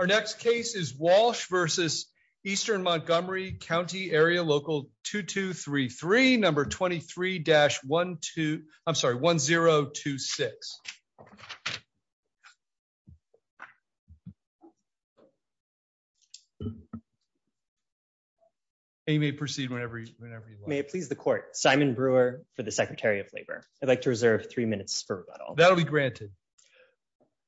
Our next case is Walsh v. Eastern Montgomery County Area Local 2233, number 23-1026. And you may proceed whenever you want. May it please the court. Simon Brewer for the Secretary of Labor. I'd like to reserve three minutes for rebuttal. That'll be granted.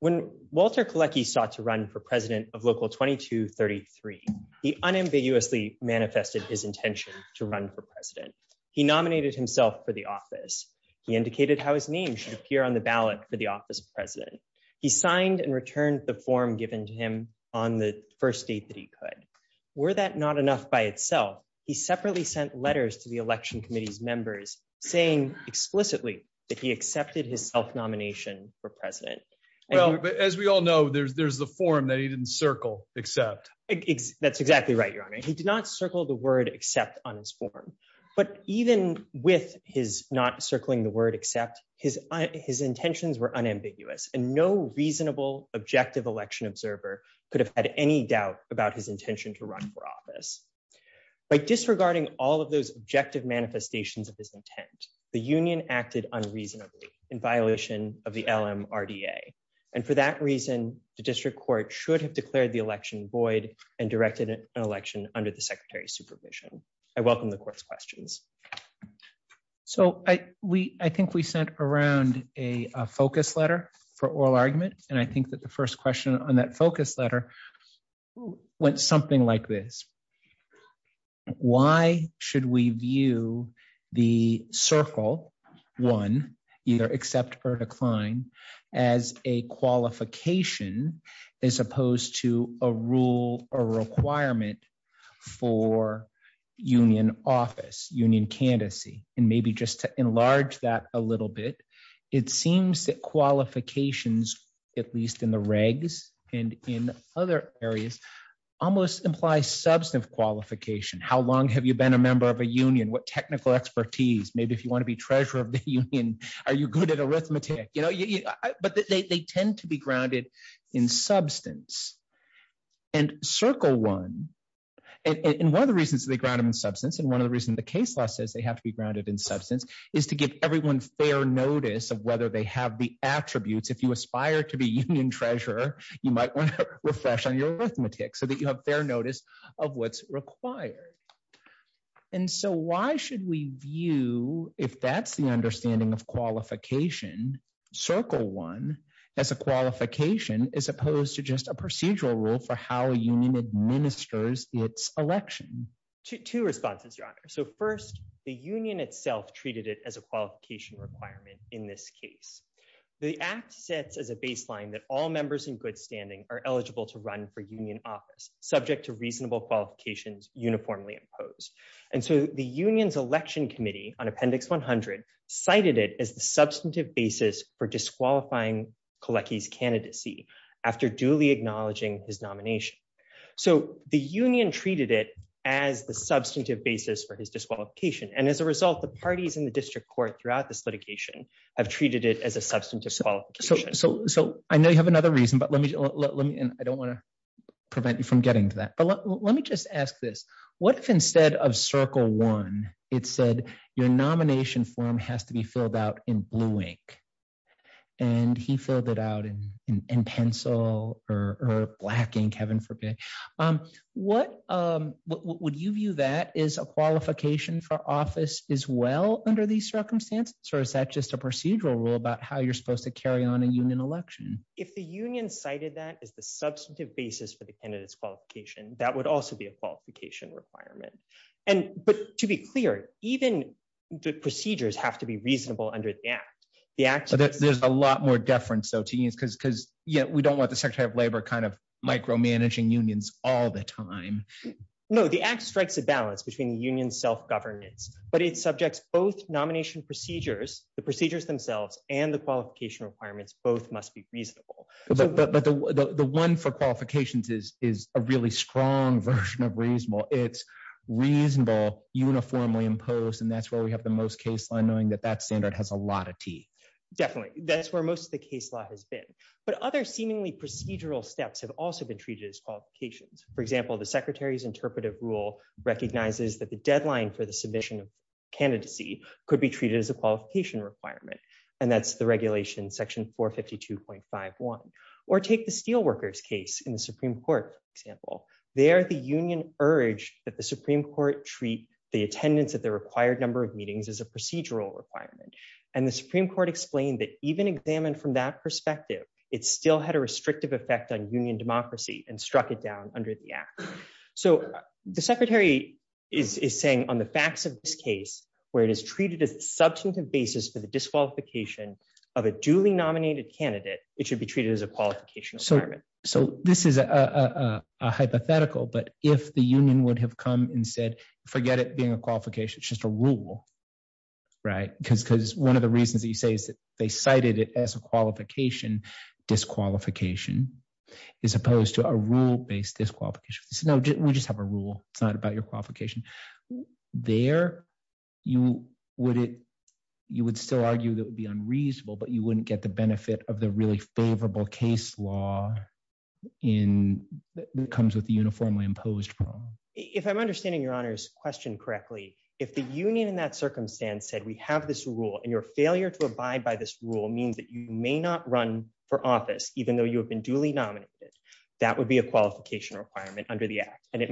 When Walter Kalecki sought to run for president of Local 2233, he unambiguously manifested his intention to run for president. He nominated himself for the office. He indicated how his name should appear on the ballot for the office of president. He signed and returned the form given to him on the first date that he could. Were that not enough by itself, he separately sent letters to the election committee's members saying explicitly that he accepted his self for president. Well, as we all know, there's the form that he didn't circle except. That's exactly right, Your Honor. He did not circle the word except on his form. But even with his not circling the word except, his intentions were unambiguous and no reasonable objective election observer could have had any doubt about his intention to run for office. By disregarding all of those objective manifestations of his intent, the union acted unreasonably in violation of the LMRDA. And for that reason, the district court should have declared the election void and directed an election under the secretary's supervision. I welcome the court's questions. So I think we sent around a focus letter for oral argument. And I think that the first question on that focus letter went something like this. Why should we view the circle, one, either accept or decline as a qualification as opposed to a rule or requirement for union office, union candidacy? And maybe just to enlarge that a little bit, it seems that qualifications, at least in the regs and in other areas, almost imply substantive qualification. How long have you been a member of a union? What technical expertise? Maybe if you want to be treasurer of the union, are you good at arithmetic? But they tend to be grounded in substance. And circle one, and one of the reasons they ground them in substance and one of the reasons the case law says they have to be grounded in substance is to give everyone fair notice of whether they have the attributes. If you aspire to be union treasurer, you might want to refresh on your arithmetic so that you have fair notice of what's required. And so why should we view, if that's the understanding of qualification, circle one as a qualification as opposed to just a procedural rule for how a union administers its election? Two responses, your honor. So first, the union itself treated it as a qualification requirement in this case. The act sets as a standing are eligible to run for union office subject to reasonable qualifications uniformly imposed. And so the union's election committee on appendix 100 cited it as the substantive basis for disqualifying Kolecki's candidacy after duly acknowledging his nomination. So the union treated it as the substantive basis for his disqualification. And as a result, the parties in the district court throughout this litigation have treated it as a substantive qualification. So I know you have another reason, but I don't want to prevent you from getting to that. But let me just ask this. What if instead of circle one, it said your nomination form has to be filled out in blue ink, and he filled it out in pencil or black ink, heaven forbid. Would you view that as a qualification for office as well under these circumstances? Or is that just a procedural rule about how you're supposed to carry on a union election? If the union cited that is the substantive basis for the candidates qualification, that would also be a qualification requirement. And but to be clear, even the procedures have to be reasonable under the act, the act, there's a lot more deference. So teens because because yet we don't want the Secretary of Labor kind of micromanaging unions all the time. No, the act strikes a balance between the union self governance, but it subjects both nomination procedures, the procedures themselves and the qualification requirements, both must be reasonable. But the one for qualifications is is a really strong version of reasonable, it's reasonable, uniformly imposed. And that's where we have the most case line knowing that that standard has a lot of tea. Definitely. That's where most of the case law has been. But other seemingly procedural steps have also been treated as qualifications. For example, the Secretary's interpretive rule recognizes that the deadline for the submission of candidacy could be treated as a qualification requirement. And that's the regulation section 452.51. Or take the steelworkers case in the Supreme Court example, there, the union urged that the Supreme Court treat the attendance at the required number of meetings as a procedural requirement. And the Supreme Court explained that even examined from that perspective, it still had a restrictive effect on union democracy and struck it down under the act. So the Secretary is saying on the facts of this case, where it is treated as substantive basis for the disqualification of a duly nominated candidate, it should be treated as a qualification. So, so this is a hypothetical, but if the union would have come and said, forget it being a qualification, it's just a rule. Right? Because because one of the reasons that you say is that they cited it as a qualification, disqualification, as opposed to a rule based disqualification, we just have a rule, it's not about your qualification. There, you would it, you would still argue that would be unreasonable, but you wouldn't get the benefit of the really favorable case law in that comes with the uniformly imposed. If I'm understanding your honors question correctly, if the union in that circumstance said we have this rule, and your failure to abide by this rule means that you may not run for office, even though you have been duly nominated, that would be a qualification requirement under the act. And it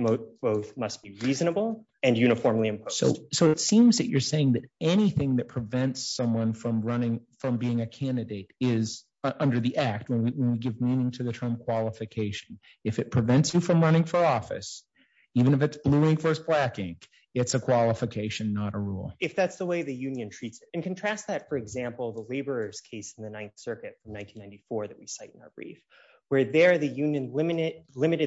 must be reasonable and uniformly imposed. So it seems that you're saying that anything that prevents someone from running from being a candidate is under the act when we give meaning to the term qualification. If it prevents you from running for office, even if it's blue ink versus black ink, it's a qualification, not a rule. If that's the way the union treats it, contrast that, for example, the laborers case in the Ninth Circuit in 1994 that we cite in our brief, where there the union limited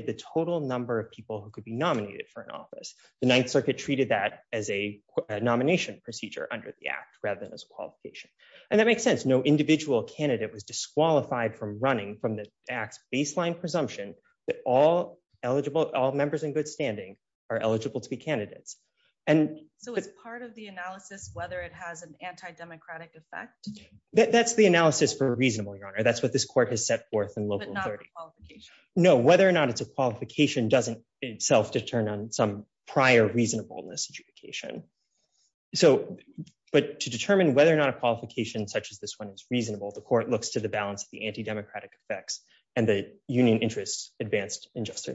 the total number of people who could be nominated for an office, the Ninth Circuit treated that as a nomination procedure under the act rather than as a qualification. And that makes sense. No individual candidate was disqualified from running from the acts baseline presumption that all eligible all members in good standing are eligible to be democratic effect. That's the analysis for reasonable your honor. That's what this court has set forth in local 30. No, whether or not it's a qualification doesn't itself to turn on some prior reasonableness adjudication. So but to determine whether or not a qualification such as this one is reasonable, the court looks to the balance of the anti democratic effects and the union interests advanced in just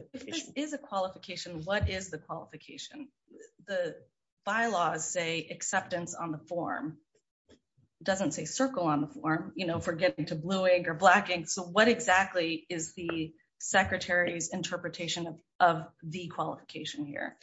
is a qualification. What is the qualification? The bylaws say acceptance on the form doesn't say circle on the form, you know, forgetting to blue ink or black ink. So what exactly is the secretary's interpretation of the qualification here?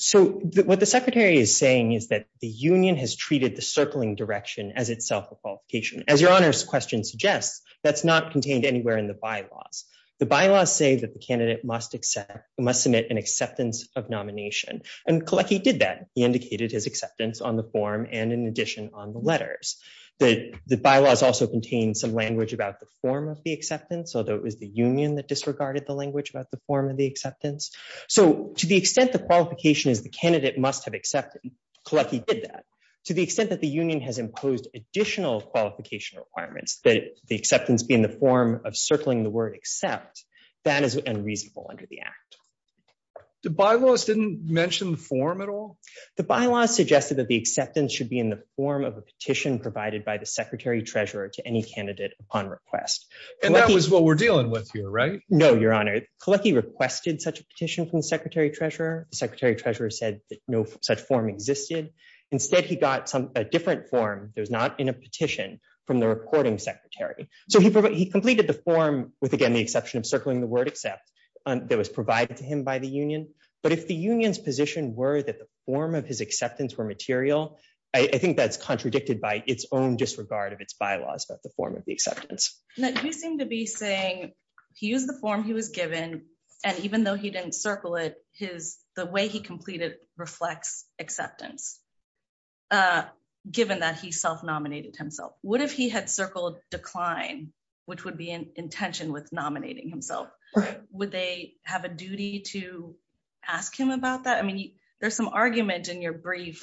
So what the secretary is saying is that the union has treated the circling direction as itself a qualification as your honors question suggests, that's not contained anywhere in the bylaws. The bylaws say that the candidate must accept must submit an acceptance of nomination, and collect he did that he indicated his acceptance on the form and in addition on the letters that the bylaws also contain some language about the form of the acceptance, although it was the union that disregarded the language about the form of the acceptance. So to the extent the qualification is the candidate must have accepted collect he did that, to the extent that the union has imposed additional qualification requirements that the acceptance be in the form of circling the word except that is unreasonable under the act. The bylaws didn't mention the form at all. The bylaws suggested that the acceptance should be in the form of a petition provided by the Secretary Treasurer to any candidate upon request. And that was what we're dealing with here, right? No, Your Honor, collect he requested such a petition from the Secretary Treasurer, the Secretary Treasurer said that no such form existed. Instead, he got some a different form, there's not in a petition from the reporting secretary. So he provided he completed the form with again, the exception of circling the word except that was provided to him by the union. But if the union's position were that the form of his acceptance were material, I think that's contradicted by its own disregard of its bylaws about the form of the acceptance that you seem to be saying, he used the form he was given. And even though he didn't circle it, his the way he completed reflects acceptance. Given that he self nominated himself, what if he had circled decline, which would be an intention with nominating himself? Would they have a duty to ask him about that? I mean, there's some argument in your brief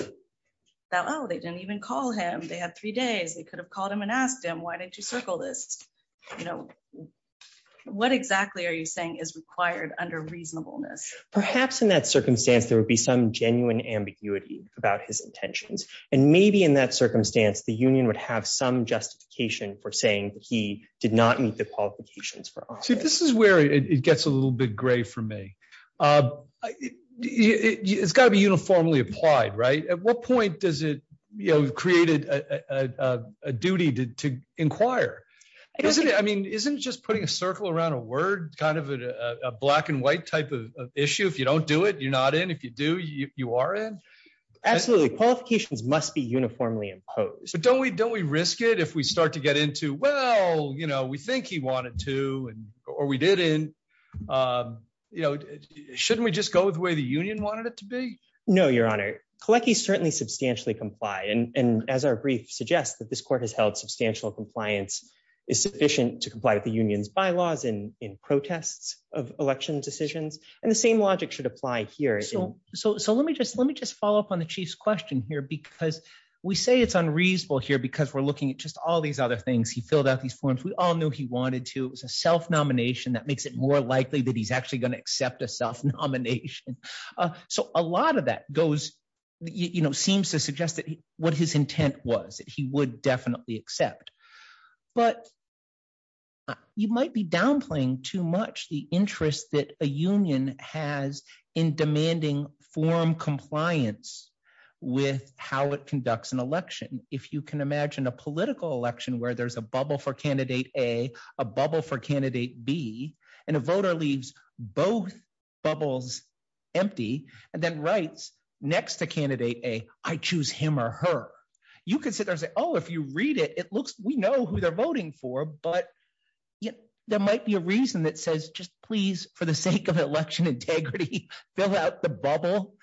that oh, they didn't even call him they had three days, they could have acquired under reasonableness. Perhaps in that circumstance, there would be some genuine ambiguity about his intentions. And maybe in that circumstance, the union would have some justification for saying that he did not meet the qualifications for see, this is where it gets a little bit gray for me. It's got to be uniformly applied, right? At what point does it, you know, duty to inquire? I mean, isn't just putting a circle around a word kind of a black and white type of issue. If you don't do it, you're not in if you do you are in. Absolutely qualifications must be uniformly imposed. But don't we don't we risk it if we start to get into well, you know, we think he wanted to and or we did in you know, shouldn't we just go with the way the union wanted to be? No, Your Honor, collect he's certainly substantially comply. And as our brief suggests that this court has held substantial compliance is sufficient to comply with the union's bylaws in protests of election decisions. And the same logic should apply here. So so let me just let me just follow up on the chief's question here. Because we say it's unreasonable here, because we're looking at just all these other things. He filled out these forms, we all knew he wanted to self nomination that makes it more likely that he's actually going to accept a self nomination. So a lot of that goes, you know, seems to suggest that what his intent was that he would definitely accept. But you might be downplaying too much the interest that a union has in demanding form compliance with how it conducts an election. If you can imagine a political election where there's a bubble for Candidate A, a bubble for Candidate B, and a voter leaves both bubbles, empty, and then writes next to Candidate A, I choose him or her, you can sit there and say, oh, if you read it, it looks we know who they're voting for. But yet, there might be a reason that says just please, for the sake of election integrity, fill out the bubble.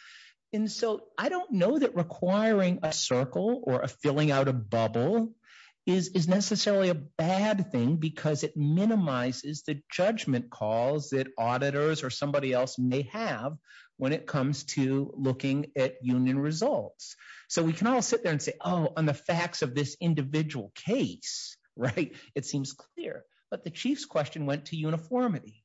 And so I don't know that requiring a circle or a filling out a bubble is necessarily a bad thing, because it minimizes the judgment calls that auditors or somebody else may have when it comes to looking at union results. So we can all sit there and say, oh, on the facts of this individual case, right, it seems clear, but the chief's question went to uniformity,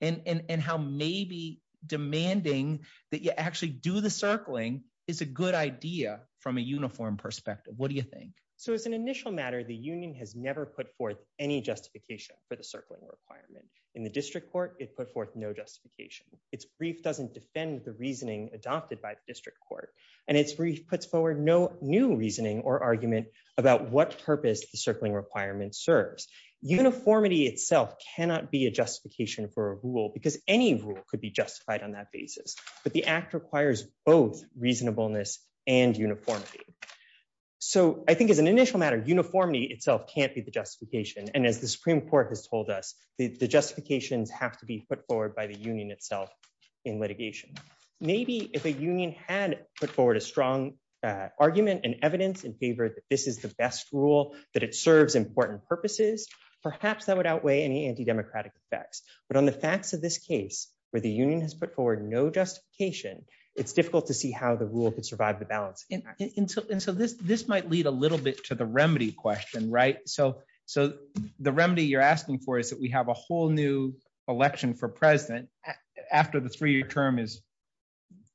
and how maybe demanding that you actually do the circling is a good idea from a uniform perspective. What do you think? So as an initial matter, the union has never put forth any justification for the circling requirement. In the district court, it put forth no justification. Its brief doesn't defend the reasoning adopted by the district court, and its brief puts forward no new reasoning or argument about what purpose the circling requirement serves. Uniformity itself cannot be a justification for a basis, but the act requires both reasonableness and uniformity. So I think as an initial matter, uniformity itself can't be the justification. And as the Supreme Court has told us, the justifications have to be put forward by the union itself in litigation. Maybe if a union had put forward a strong argument and evidence in favor that this is the best rule, that it serves important purposes, perhaps that would outweigh any anti-democratic effects. But on the facts of this case, where the union has put forward no justification, it's difficult to see how the rule could survive the balance. And so this might lead a little bit to the remedy question, right? So the remedy you're asking for is that we have a whole new election for president after the three-year term is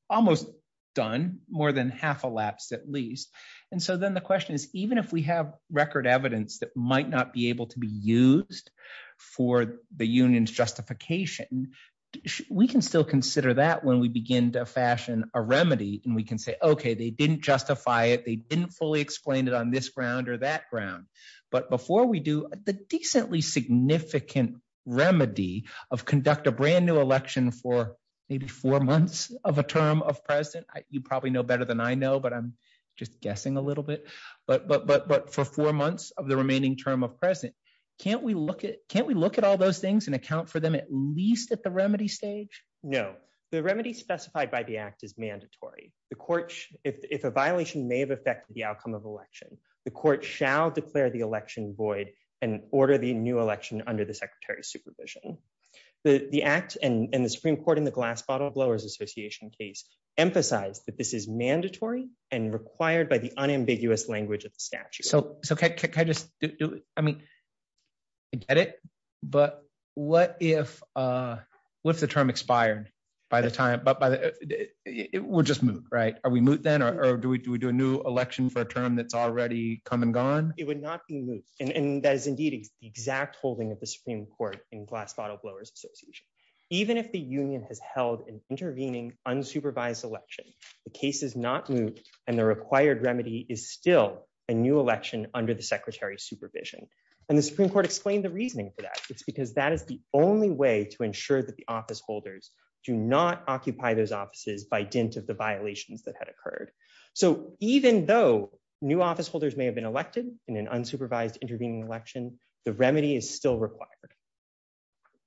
almost done, more than half elapsed at least. And so then the question is, even if we have record evidence that might not be able to be used for the union's justification, we can still consider that when we begin to fashion a remedy. And we can say, okay, they didn't justify it. They didn't fully explain it on this ground or that ground. But before we do, the decently significant remedy of conduct a brand new election for maybe four months of a term of president, you probably know better than I know, but I'm just guessing a little bit, but for four months of the remaining term of president, can't we look at all those things and account for them at least at the remedy stage? No, the remedy specified by the act is mandatory. The court, if a violation may have affected the outcome of election, the court shall declare the election void and order the new election under the secretary's supervision. The act and the Supreme Court in the glass bottle blowers association case emphasized that this is mandatory and required by the unambiguous language of the statute. So can I just do it? I mean, I get it, but what if the term expired by the time, it would just move, right? Are we moot then? Or do we do a new election for a term that's already come and gone? It would not be moot. And that is indeed the exact holding of bottle blowers association. Even if the union has held an intervening unsupervised election, the case is not moot and the required remedy is still a new election under the secretary's supervision. And the Supreme Court explained the reasoning for that. It's because that is the only way to ensure that the office holders do not occupy those offices by dint of the violations that had occurred. So even though new office holders may have been elected in an unsupervised intervening election, the remedy is still required.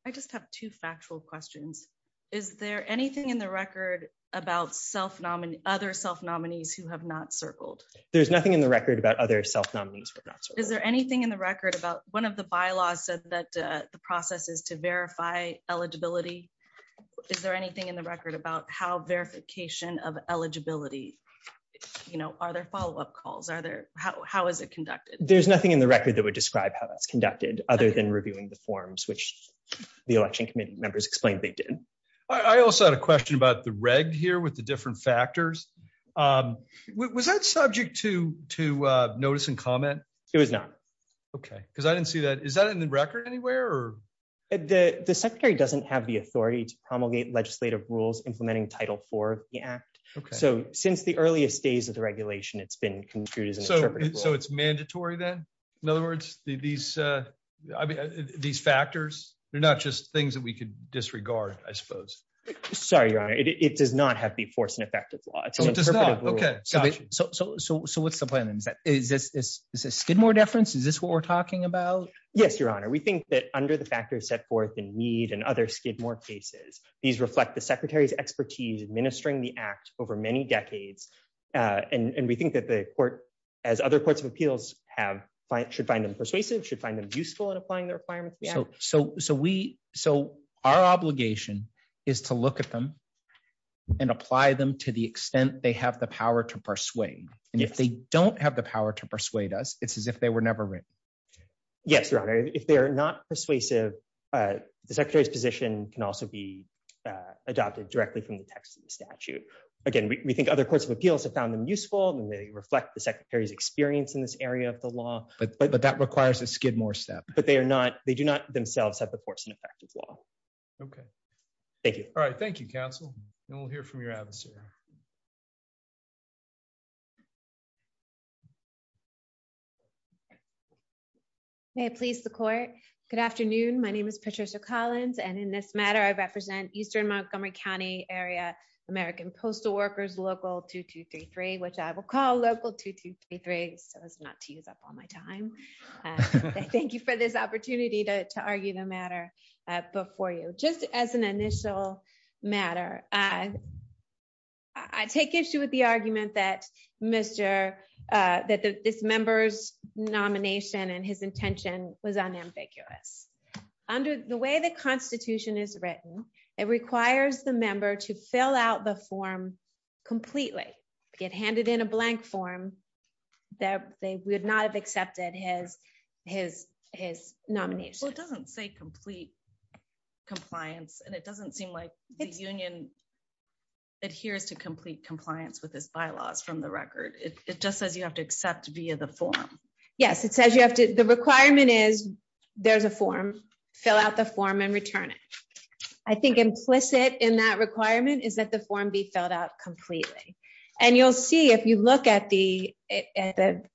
I just have two factual questions. Is there anything in the record about self-nominate other self-nominees who have not circled? There's nothing in the record about other self-nominees. Is there anything in the record about one of the bylaws said that the process is to verify eligibility? Is there anything in the record about how verification of eligibility, you know, are there follow-up calls? Are there, how is it conducted? There's nothing in the record that would describe how that's conducted other than reviewing the forms, which the election committee members explained they did. I also had a question about the reg here with the different factors. Was that subject to to notice and comment? It was not. Okay. Because I didn't see that. Is that in the record anywhere? The secretary doesn't have the authority to promulgate legislative rules implementing Title IV of the act. Okay. So since the earliest days of the regulation, it's been construed as an interpretive rule. So it's mandatory then? In other words, these factors, they're not just things that we could disregard, I suppose. Sorry, Your Honor. It does not have to be forced and effective law. It's an interpretive rule. Okay. Gotcha. So what's the plan then? Is this a Skidmore deference? Is this what we're talking about? Yes, Your Honor. We think that under the factors set forth in Mead and other Skidmore cases, these reflect the administering the act over many decades. And we think that the court, as other courts of appeals should find them persuasive, should find them useful in applying the requirements of the act. So our obligation is to look at them and apply them to the extent they have the power to persuade. And if they don't have the power to persuade us, it's as if they were never written. Yes, Your Honor. If they're not persuasive, the secretary's position can also be in the text of the statute. Again, we think other courts of appeals have found them useful, and they reflect the secretary's experience in this area of the law. But that requires a Skidmore step. But they do not themselves have the force and effective law. Okay. Thank you. All right. Thank you, counsel. And we'll hear from your adviser. May it please the court. Good afternoon. My name is Patricia Collins. And in this matter, I represent Eastern Montgomery County area, American postal workers, local 2233, which I will call local 2233. So as not to use up all my time. Thank you for this opportunity to argue the matter before you just as an initial matter. I take issue with the argument that Mr. that this nomination and his intention was unambiguous. Under the way the Constitution is written, it requires the member to fill out the form completely get handed in a blank form that they would not have accepted his his his nomination doesn't say complete compliance. And it doesn't seem like the union adheres to complete compliance with this bylaws from the forum. Yes, it says you have to the requirement is there's a form, fill out the form and return it. I think implicit in that requirement is that the form be filled out completely. And you'll see if you look at the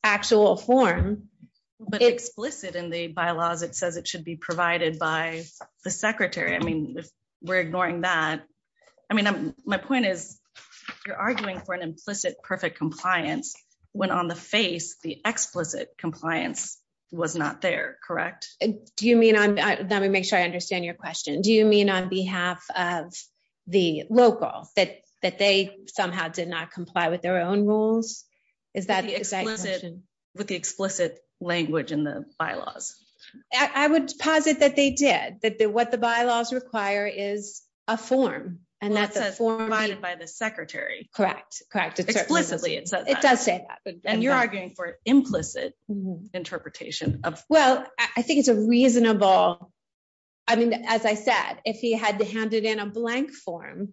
actual form, but explicit in the bylaws, it says it should be provided by the Secretary. I mean, we're ignoring that. I mean, my point is, you're arguing for an explicit compliance was not there, correct? Do you mean I'm not gonna make sure I understand your question. Do you mean on behalf of the local that that they somehow did not comply with their own rules? Is that the explicit with the explicit language in the bylaws? I would posit that they did that the what the bylaws require is a form and that's a form provided by the Secretary. Correct. Correct. Explicitly. It does say that. And you're arguing for implicit interpretation of well, I think it's a reasonable. I mean, as I said, if he had to hand it in a blank form,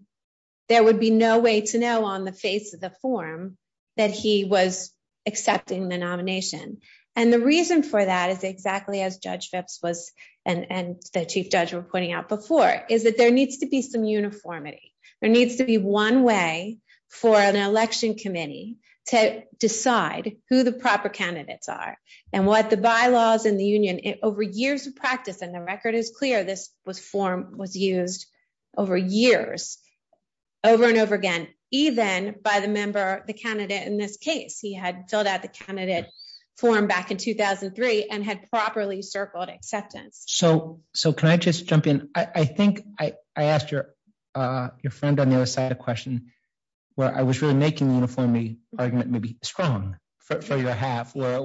there would be no way to know on the face of the form that he was accepting the nomination. And the reason for that is exactly as Judge Phipps was, and the Chief Judge were pointing out before is that there needs to be some uniformity, there needs to be one way for an election committee to decide who the proper candidates are. And what the bylaws in the union over years of practice, and the record is clear, this was form was used over years, over and over again, even by the member, the candidate in this case, he had filled out the I think I asked your, your friend on the other side of the question, where I was really making the uniformity argument may be strong for your half, where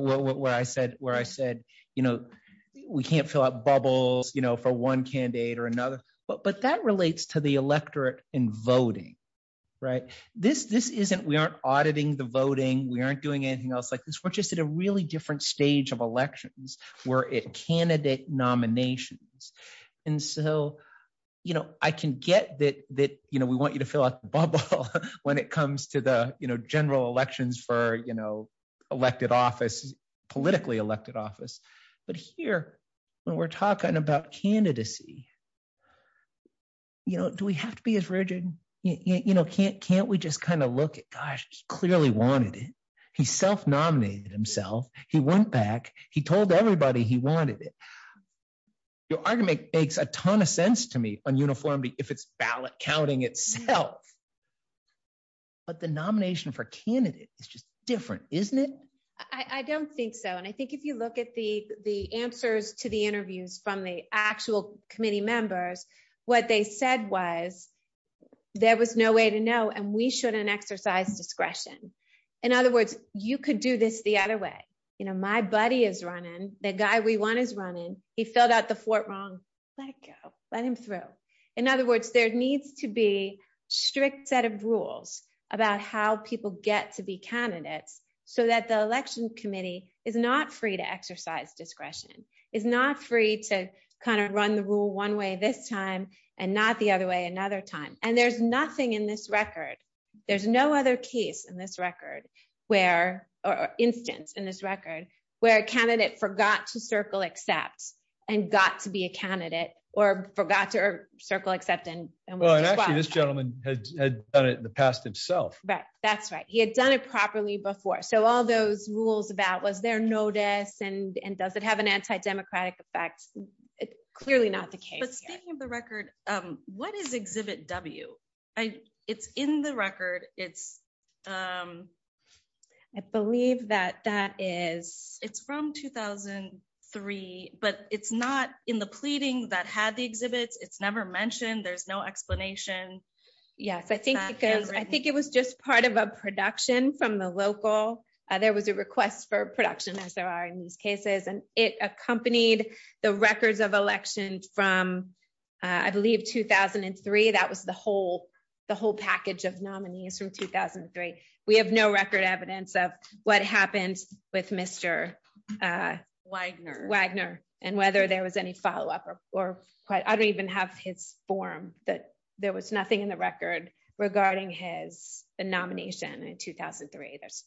I said, where I said, you know, we can't fill out bubbles, you know, for one candidate or another, but that relates to the electorate in voting. Right? This this isn't we aren't auditing the voting, we aren't doing anything else like this, we're just at a really different stage of elections, where it candidate nominations. And so, you know, I can get that, that, you know, we want you to fill out the bubble when it comes to the, you know, general elections for, you know, elected office, politically elected office. But here, when we're talking about candidacy, you know, do we have to be as rigid? You know, can't can't we just kind of look at gosh, he clearly wanted it. He self nominated himself, he went back, he told everybody he wanted it. Your argument makes a ton of sense to me on uniformity, if it's ballot counting itself. But the nomination for candidate is just different, isn't it? I don't think so. And I think if you look at the the answers to the interviews from the actual committee members, what they said was, there was no way to know and we shouldn't exercise discretion. In other words, you could do this the other way. You know, my buddy is running, the guy we want is running, he filled out the Fort wrong, let go, let him through. In other words, there needs to be strict set of rules about how people get to be candidates, so that the election committee is not free to exercise discretion is not free to kind of run the rule one way this time, and not the other way another time. And there's nothing in this record. There's no other case in this record, where instance in this record, where a candidate forgot to circle except, and got to be a candidate or forgot to circle except in this gentleman had done it in the past itself. Right? That's right. He had done it properly before. So all those rules about was there notice and and does it have an anti democratic effect? It's clearly not the case. The record, what is exhibit W? I it's in the record. It's I believe that that is it's from 2003. But it's not in the pleading that had the exhibits. It's never mentioned. There's no explanation. Yes, I think because I think it was just part of a production from the local. There was a request for production as there are in these cases, and it accompanied the records of election from, I believe 2003. That was the whole, the whole package of nominees from 2003. We have no record evidence of what happened with Mr. Wagner Wagner, and whether there was any follow up or quite I don't even have his form that there was nothing in the record regarding his nomination in 2003. There's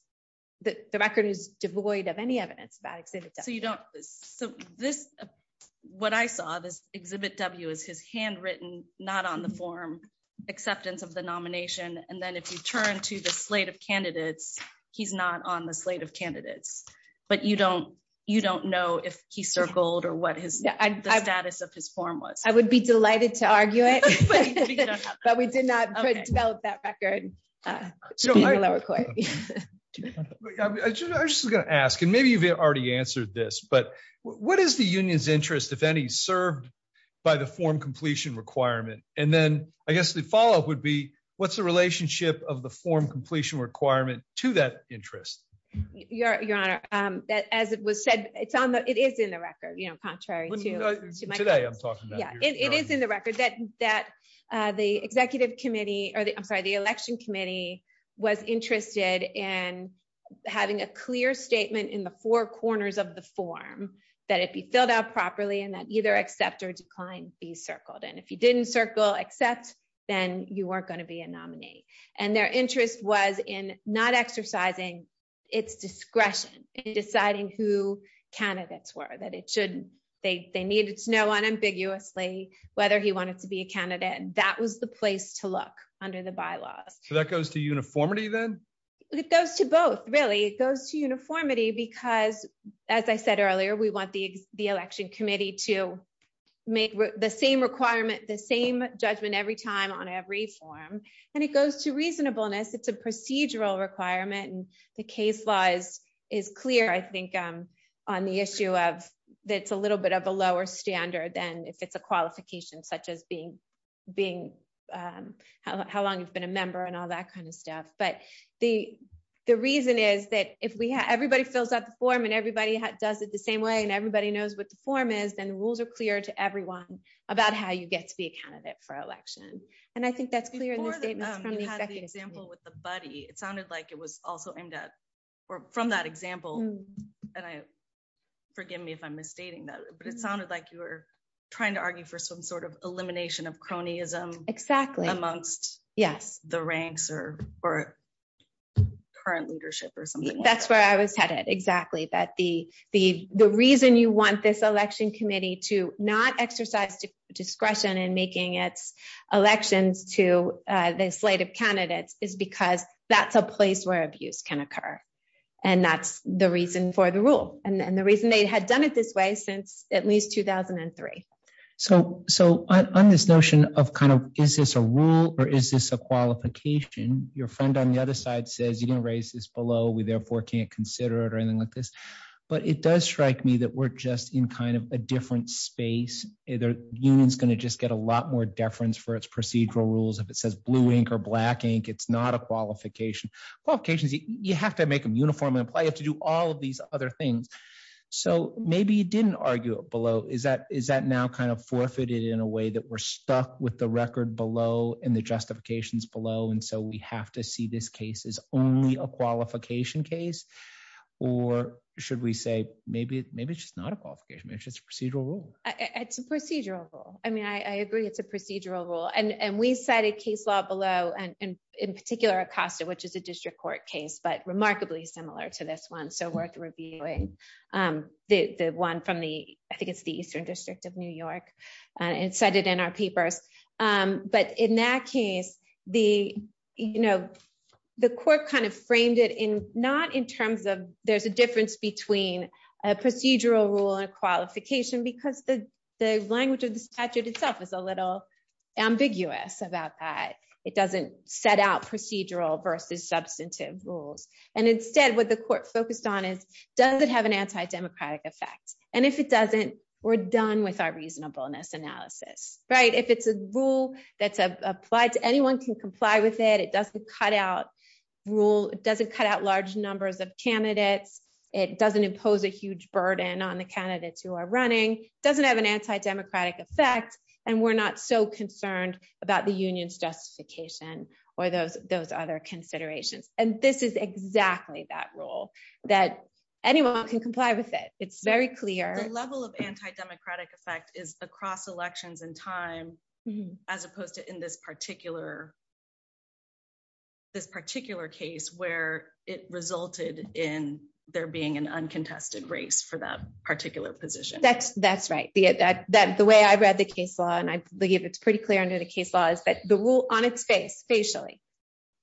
the record is devoid of any evidence about exhibit. So you don't so this, what I saw this exhibit W is his handwritten not on the form, acceptance of the nomination. And then if you turn to the slate of candidates, he's not on the slate of candidates. But you don't you don't know if he circled or what his status of his form was, I would be delighted to argue it. But we did not develop that record. So I'm just gonna ask and maybe you've already answered this, but what is the union's interest, if any, served by the form completion requirement? And then I guess the follow up would be, what's the relationship of the form completion requirement to that interest? Your Honor, that as it was said, it's on the it is in the record, you know, contrary to today, I'm talking. Yeah, it is in the record that that the Executive Committee or the I'm was interested in having a clear statement in the four corners of the form, that it be filled out properly and that either accept or decline be circled. And if you didn't circle except, then you weren't going to be a nominee. And their interest was in not exercising its discretion in deciding who candidates were that it should, they needed to know unambiguously, whether he wanted to be a candidate. And that was the place to look under the bylaws. So that goes to uniformity, then it goes to both really, it goes to uniformity, because, as I said earlier, we want the the election committee to make the same requirement, the same judgment every time on every form, and it goes to reasonableness. It's a procedural requirement. And the case laws is clear, I think, on the issue of that's a little bit of a lower standard than if it's a qualification, such as being being how long you've been a member and all that kind of stuff. But the, the reason is that if we have everybody fills out the form, and everybody does it the same way, and everybody knows what the form is, then the rules are clear to everyone about how you get to be a candidate for election. And I think that's clear. With the buddy, it sounded like it was also aimed at, or from that example. And I, it sounded like you were trying to argue for some sort of elimination of cronyism. Exactly. Amongst Yes, the ranks or, or current leadership or something. That's where I was headed. Exactly. But the, the, the reason you want this election committee to not exercise discretion and making its elections to the slate of candidates is because that's a place where abuse can occur. And that's the reason for the rule. And the reason they had done it this way since at least 2003. So, so on this notion of kind of, is this a rule, or is this a qualification, your friend on the other side says you can raise this below, we therefore can't consider it or anything like this. But it does strike me that we're just in kind of a different space, either unions going to just get a lot more deference for its procedural rules. If it says blue ink or black ink, it's not a qualification, qualifications, you have to make them uniform to do all of these other things. So maybe you didn't argue below is that is that now kind of forfeited in a way that we're stuck with the record below and the justifications below. And so we have to see this case is only a qualification case. Or should we say maybe maybe it's just not a qualification. It's just procedural rule. It's a procedural rule. I mean, I agree it's a procedural rule. And we cited case law below and in particular Acosta, which is a district court case, but remarkably similar to this one. So worth reviewing the one from the I think it's the Eastern District of New York and cited in our papers. But in that case, the you know, the court kind of framed it in not in terms of there's a difference between a procedural rule and qualification because the the language of the statute itself is a little ambiguous about that. It doesn't set out procedural versus substantive rules. And instead, what the court focused on is does it have an anti democratic effect? And if it doesn't, we're done with our reasonableness analysis, right? If it's a rule that's applied to anyone can comply with it, it doesn't cut out rule doesn't cut out large numbers of candidates. It doesn't impose a huge burden on the candidates who are running doesn't have an anti democratic effect. And we're not so concerned about the union's justification, or those those other considerations. And this is exactly that role that anyone can comply with it. It's very clear level of anti democratic effect is across elections in time, as opposed to in this particular, this particular case, where it resulted in there being an uncontested race for that particular position. That's, that's right, that that the way I read the case law, and I believe it's pretty clear under the case laws, but the rule on its face facially,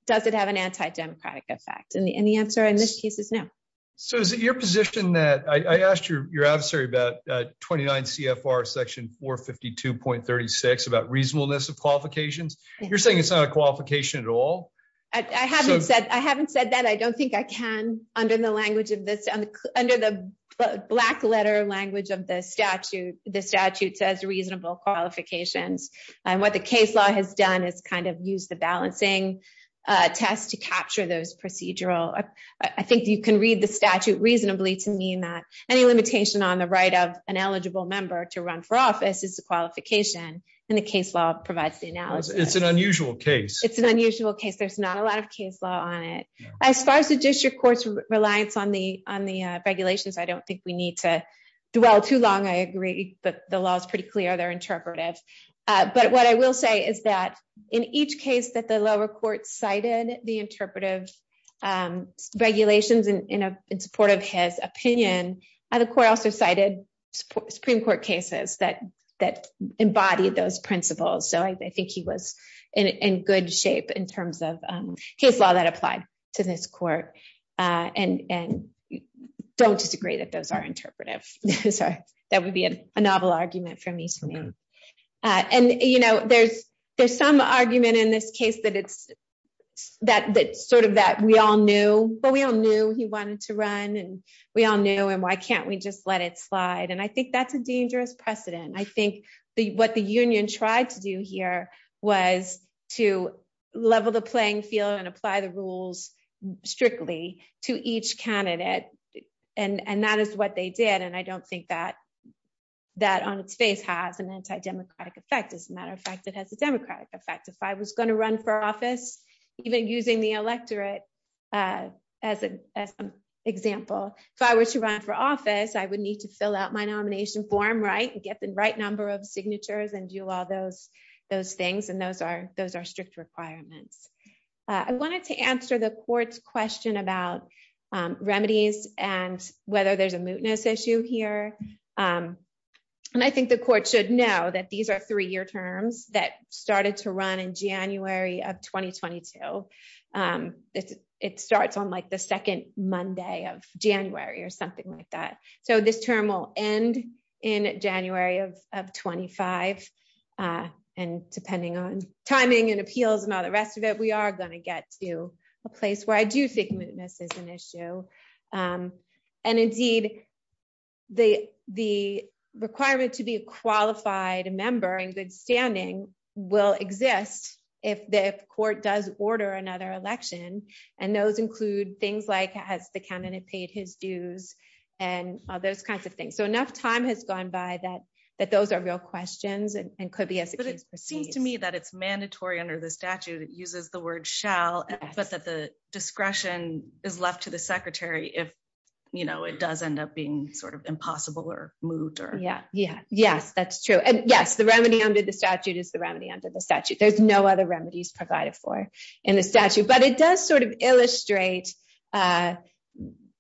does it have an anti democratic effect? And the answer in this case is no. So is it your position that I asked you your adversary about 29 CFR section 452.36 about reasonableness of qualifications, you're saying it's not a qualification at all. I haven't said I haven't said that I don't think I can under the language of this under the black letter language of the statute, the statute says reasonable qualifications. And what the case law has done is kind of use the balancing test to capture those procedural. I think you can read the statute reasonably to mean that any limitation on the right of an eligible member to run for office is a qualification. And the case law provides the analysis, it's an unusual case, it's an unusual case, there's not a lot of case law on it. As far as the district courts reliance on the on the regulations, I don't think we need to dwell too long. I agree. But the law is pretty clear. They're interpretive. But what I will say is that in each case that the lower court cited the interpretive regulations in support of his opinion, the court also cited Supreme Court cases that that embodied those principles. So I think he was in good shape in terms of his law that applied to this court. And don't disagree that those are interpretive. So that would be a novel argument for me to me. And you know, there's, there's some argument in this case that it's that that sort of that we all knew, but we all knew he wanted to run and we all knew and why can't we just let it slide. And I think that's a dangerous precedent. I think the what the union tried to do here was to level the playing field and apply the rules strictly to each candidate. And and that is what they did. And I don't think that that on its face has an anti democratic effect. As a matter of fact, it has a democratic effect. If I was going to run for office, even using the electorate. As an example, if I were to run for office, I would need to fill out my nomination form, right, and get the right number of signatures and do all those, those things. And those are those are strict requirements. I wanted to answer the court's question about remedies and whether there's a mootness issue here. And I think the court should know that these are three year terms that started to run in January of 2022. It starts on like the second Monday of January or something like that. So this term will end in January of 25. And depending on timing and appeals and all the rest of it, we are going to get to a place where I do think mootness is an issue. And indeed, the the requirement to be a qualified member in good standing will exist if the court does order another election. And those include things like has the candidate paid his dues and all those kinds of things. So enough time has gone by that that those are real questions and could be as it seems to me that it's mandatory under the statute. It uses the word shall, but that the discretion is left to the secretary if, you know, it does end up being sort of impossible or moot. Yeah, yeah, yes, that's true. And yes, the remedy under the statute is the remedy under the statute. There's no other remedies provided for in the statute. But it does sort of illustrate that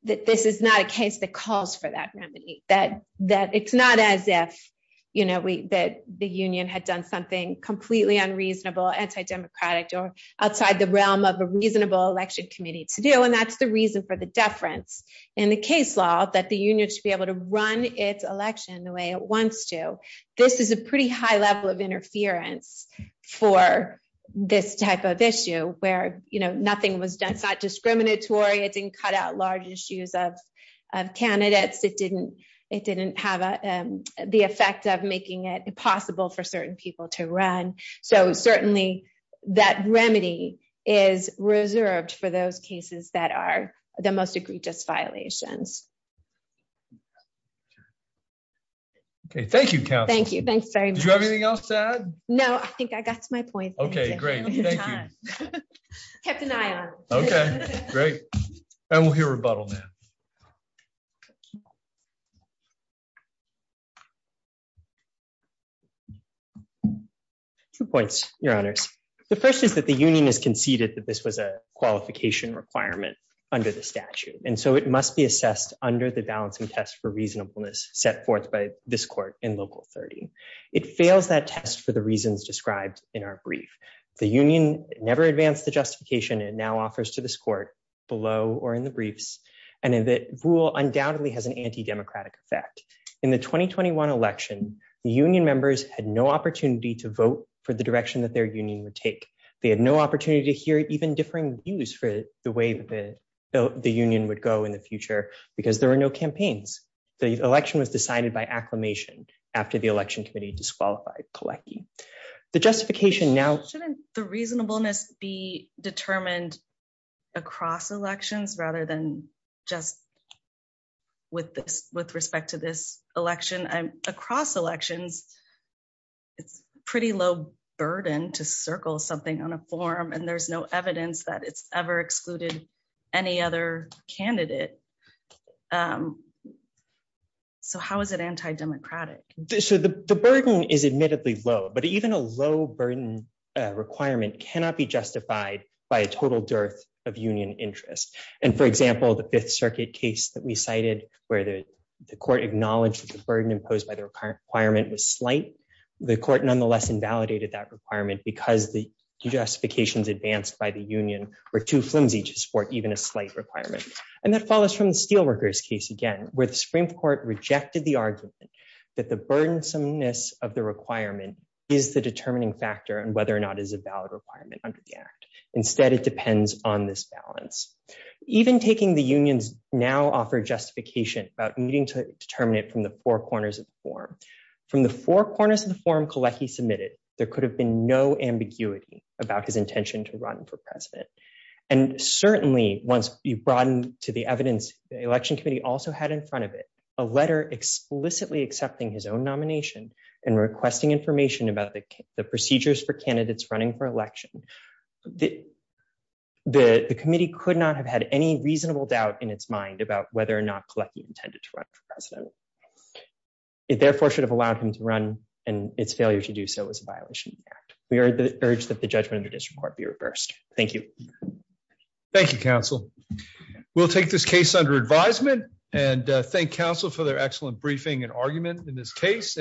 this is not a case that calls for that remedy, that that it's not as if, you know, we that the union had done something completely unreasonable, anti democratic or outside the realm of a reasonable election committee to do. And that's the reason for the deference in the case law that the union should be able to run its election the way it wants to. This is a pretty high level of interference for this type of issue where, you know, nothing was done, it's not discriminatory, it didn't cut out large issues of candidates, it didn't, it didn't have the effect of making it possible for certain people to run. So certainly, that remedy is reserved for those cases that are the most egregious violations. Okay, thank you. Thank you. Thanks. Do you have anything else to add? No, I think I got to my point. Okay, great. Thank you. Kept an eye on. Okay, great. And we'll hear rebuttal now. Two points, Your Honors. The first is that the union has conceded that this was a qualification requirement under the statute. And so it must be assessed under the balancing test for reasonableness set forth by this court in Local 30. It fails that test for the reasons described in our brief. The union never advanced the justification it now offers to this court below or in the briefs, and in that rule undoubtedly has an anti-democratic effect. In the 2021 election, the union members had no opportunity to vote for the direction that their union would take. They had no opportunity to hear even differing views for the way that the union would go in the future because there were no campaigns. The election was decided by acclimation after the election committee disqualified Kolecki. The justification now... Shouldn't the reasonableness be determined across elections rather than just with respect to this election? Across elections, it's pretty low burden to circle something on a form, and there's no evidence that it's ever excluded any other candidate. So how is it anti-democratic? So the burden is admittedly low, but even a low burden requirement cannot be justified by a total dearth of union interest. And for example, the Fifth Circuit case that we cited, where the court acknowledged that the burden imposed by the requirement was slight, the court nonetheless invalidated that requirement because the justifications advanced by the union were too flimsy to support even a slight requirement. And that follows from the Steelworkers case again, where the Supreme Court rejected the argument that the burdensomeness of the requirement is the determining factor and whether or not is a valid requirement under the act. Instead, it depends on this balance. Even taking the unions now offer justification about needing to determine it from the four corners of the form. From the four corners of the form Kelechi submitted, there could have been no ambiguity about his intention to run for president. And certainly, once you broaden to the evidence the election committee also had in front of it, a letter explicitly accepting his own nomination and requesting information about the procedures for candidates running for election, the committee could not have had any reasonable doubt in its mind about whether or not Kelechi intended to run for president. It therefore should have allowed him to run and its failure to do so was a violation of the act. We urge that the judgment of the district court be reversed. Thank you. Thank you, counsel. We'll take this case under advisement and thank counsel for their excellent briefing and argument in this case.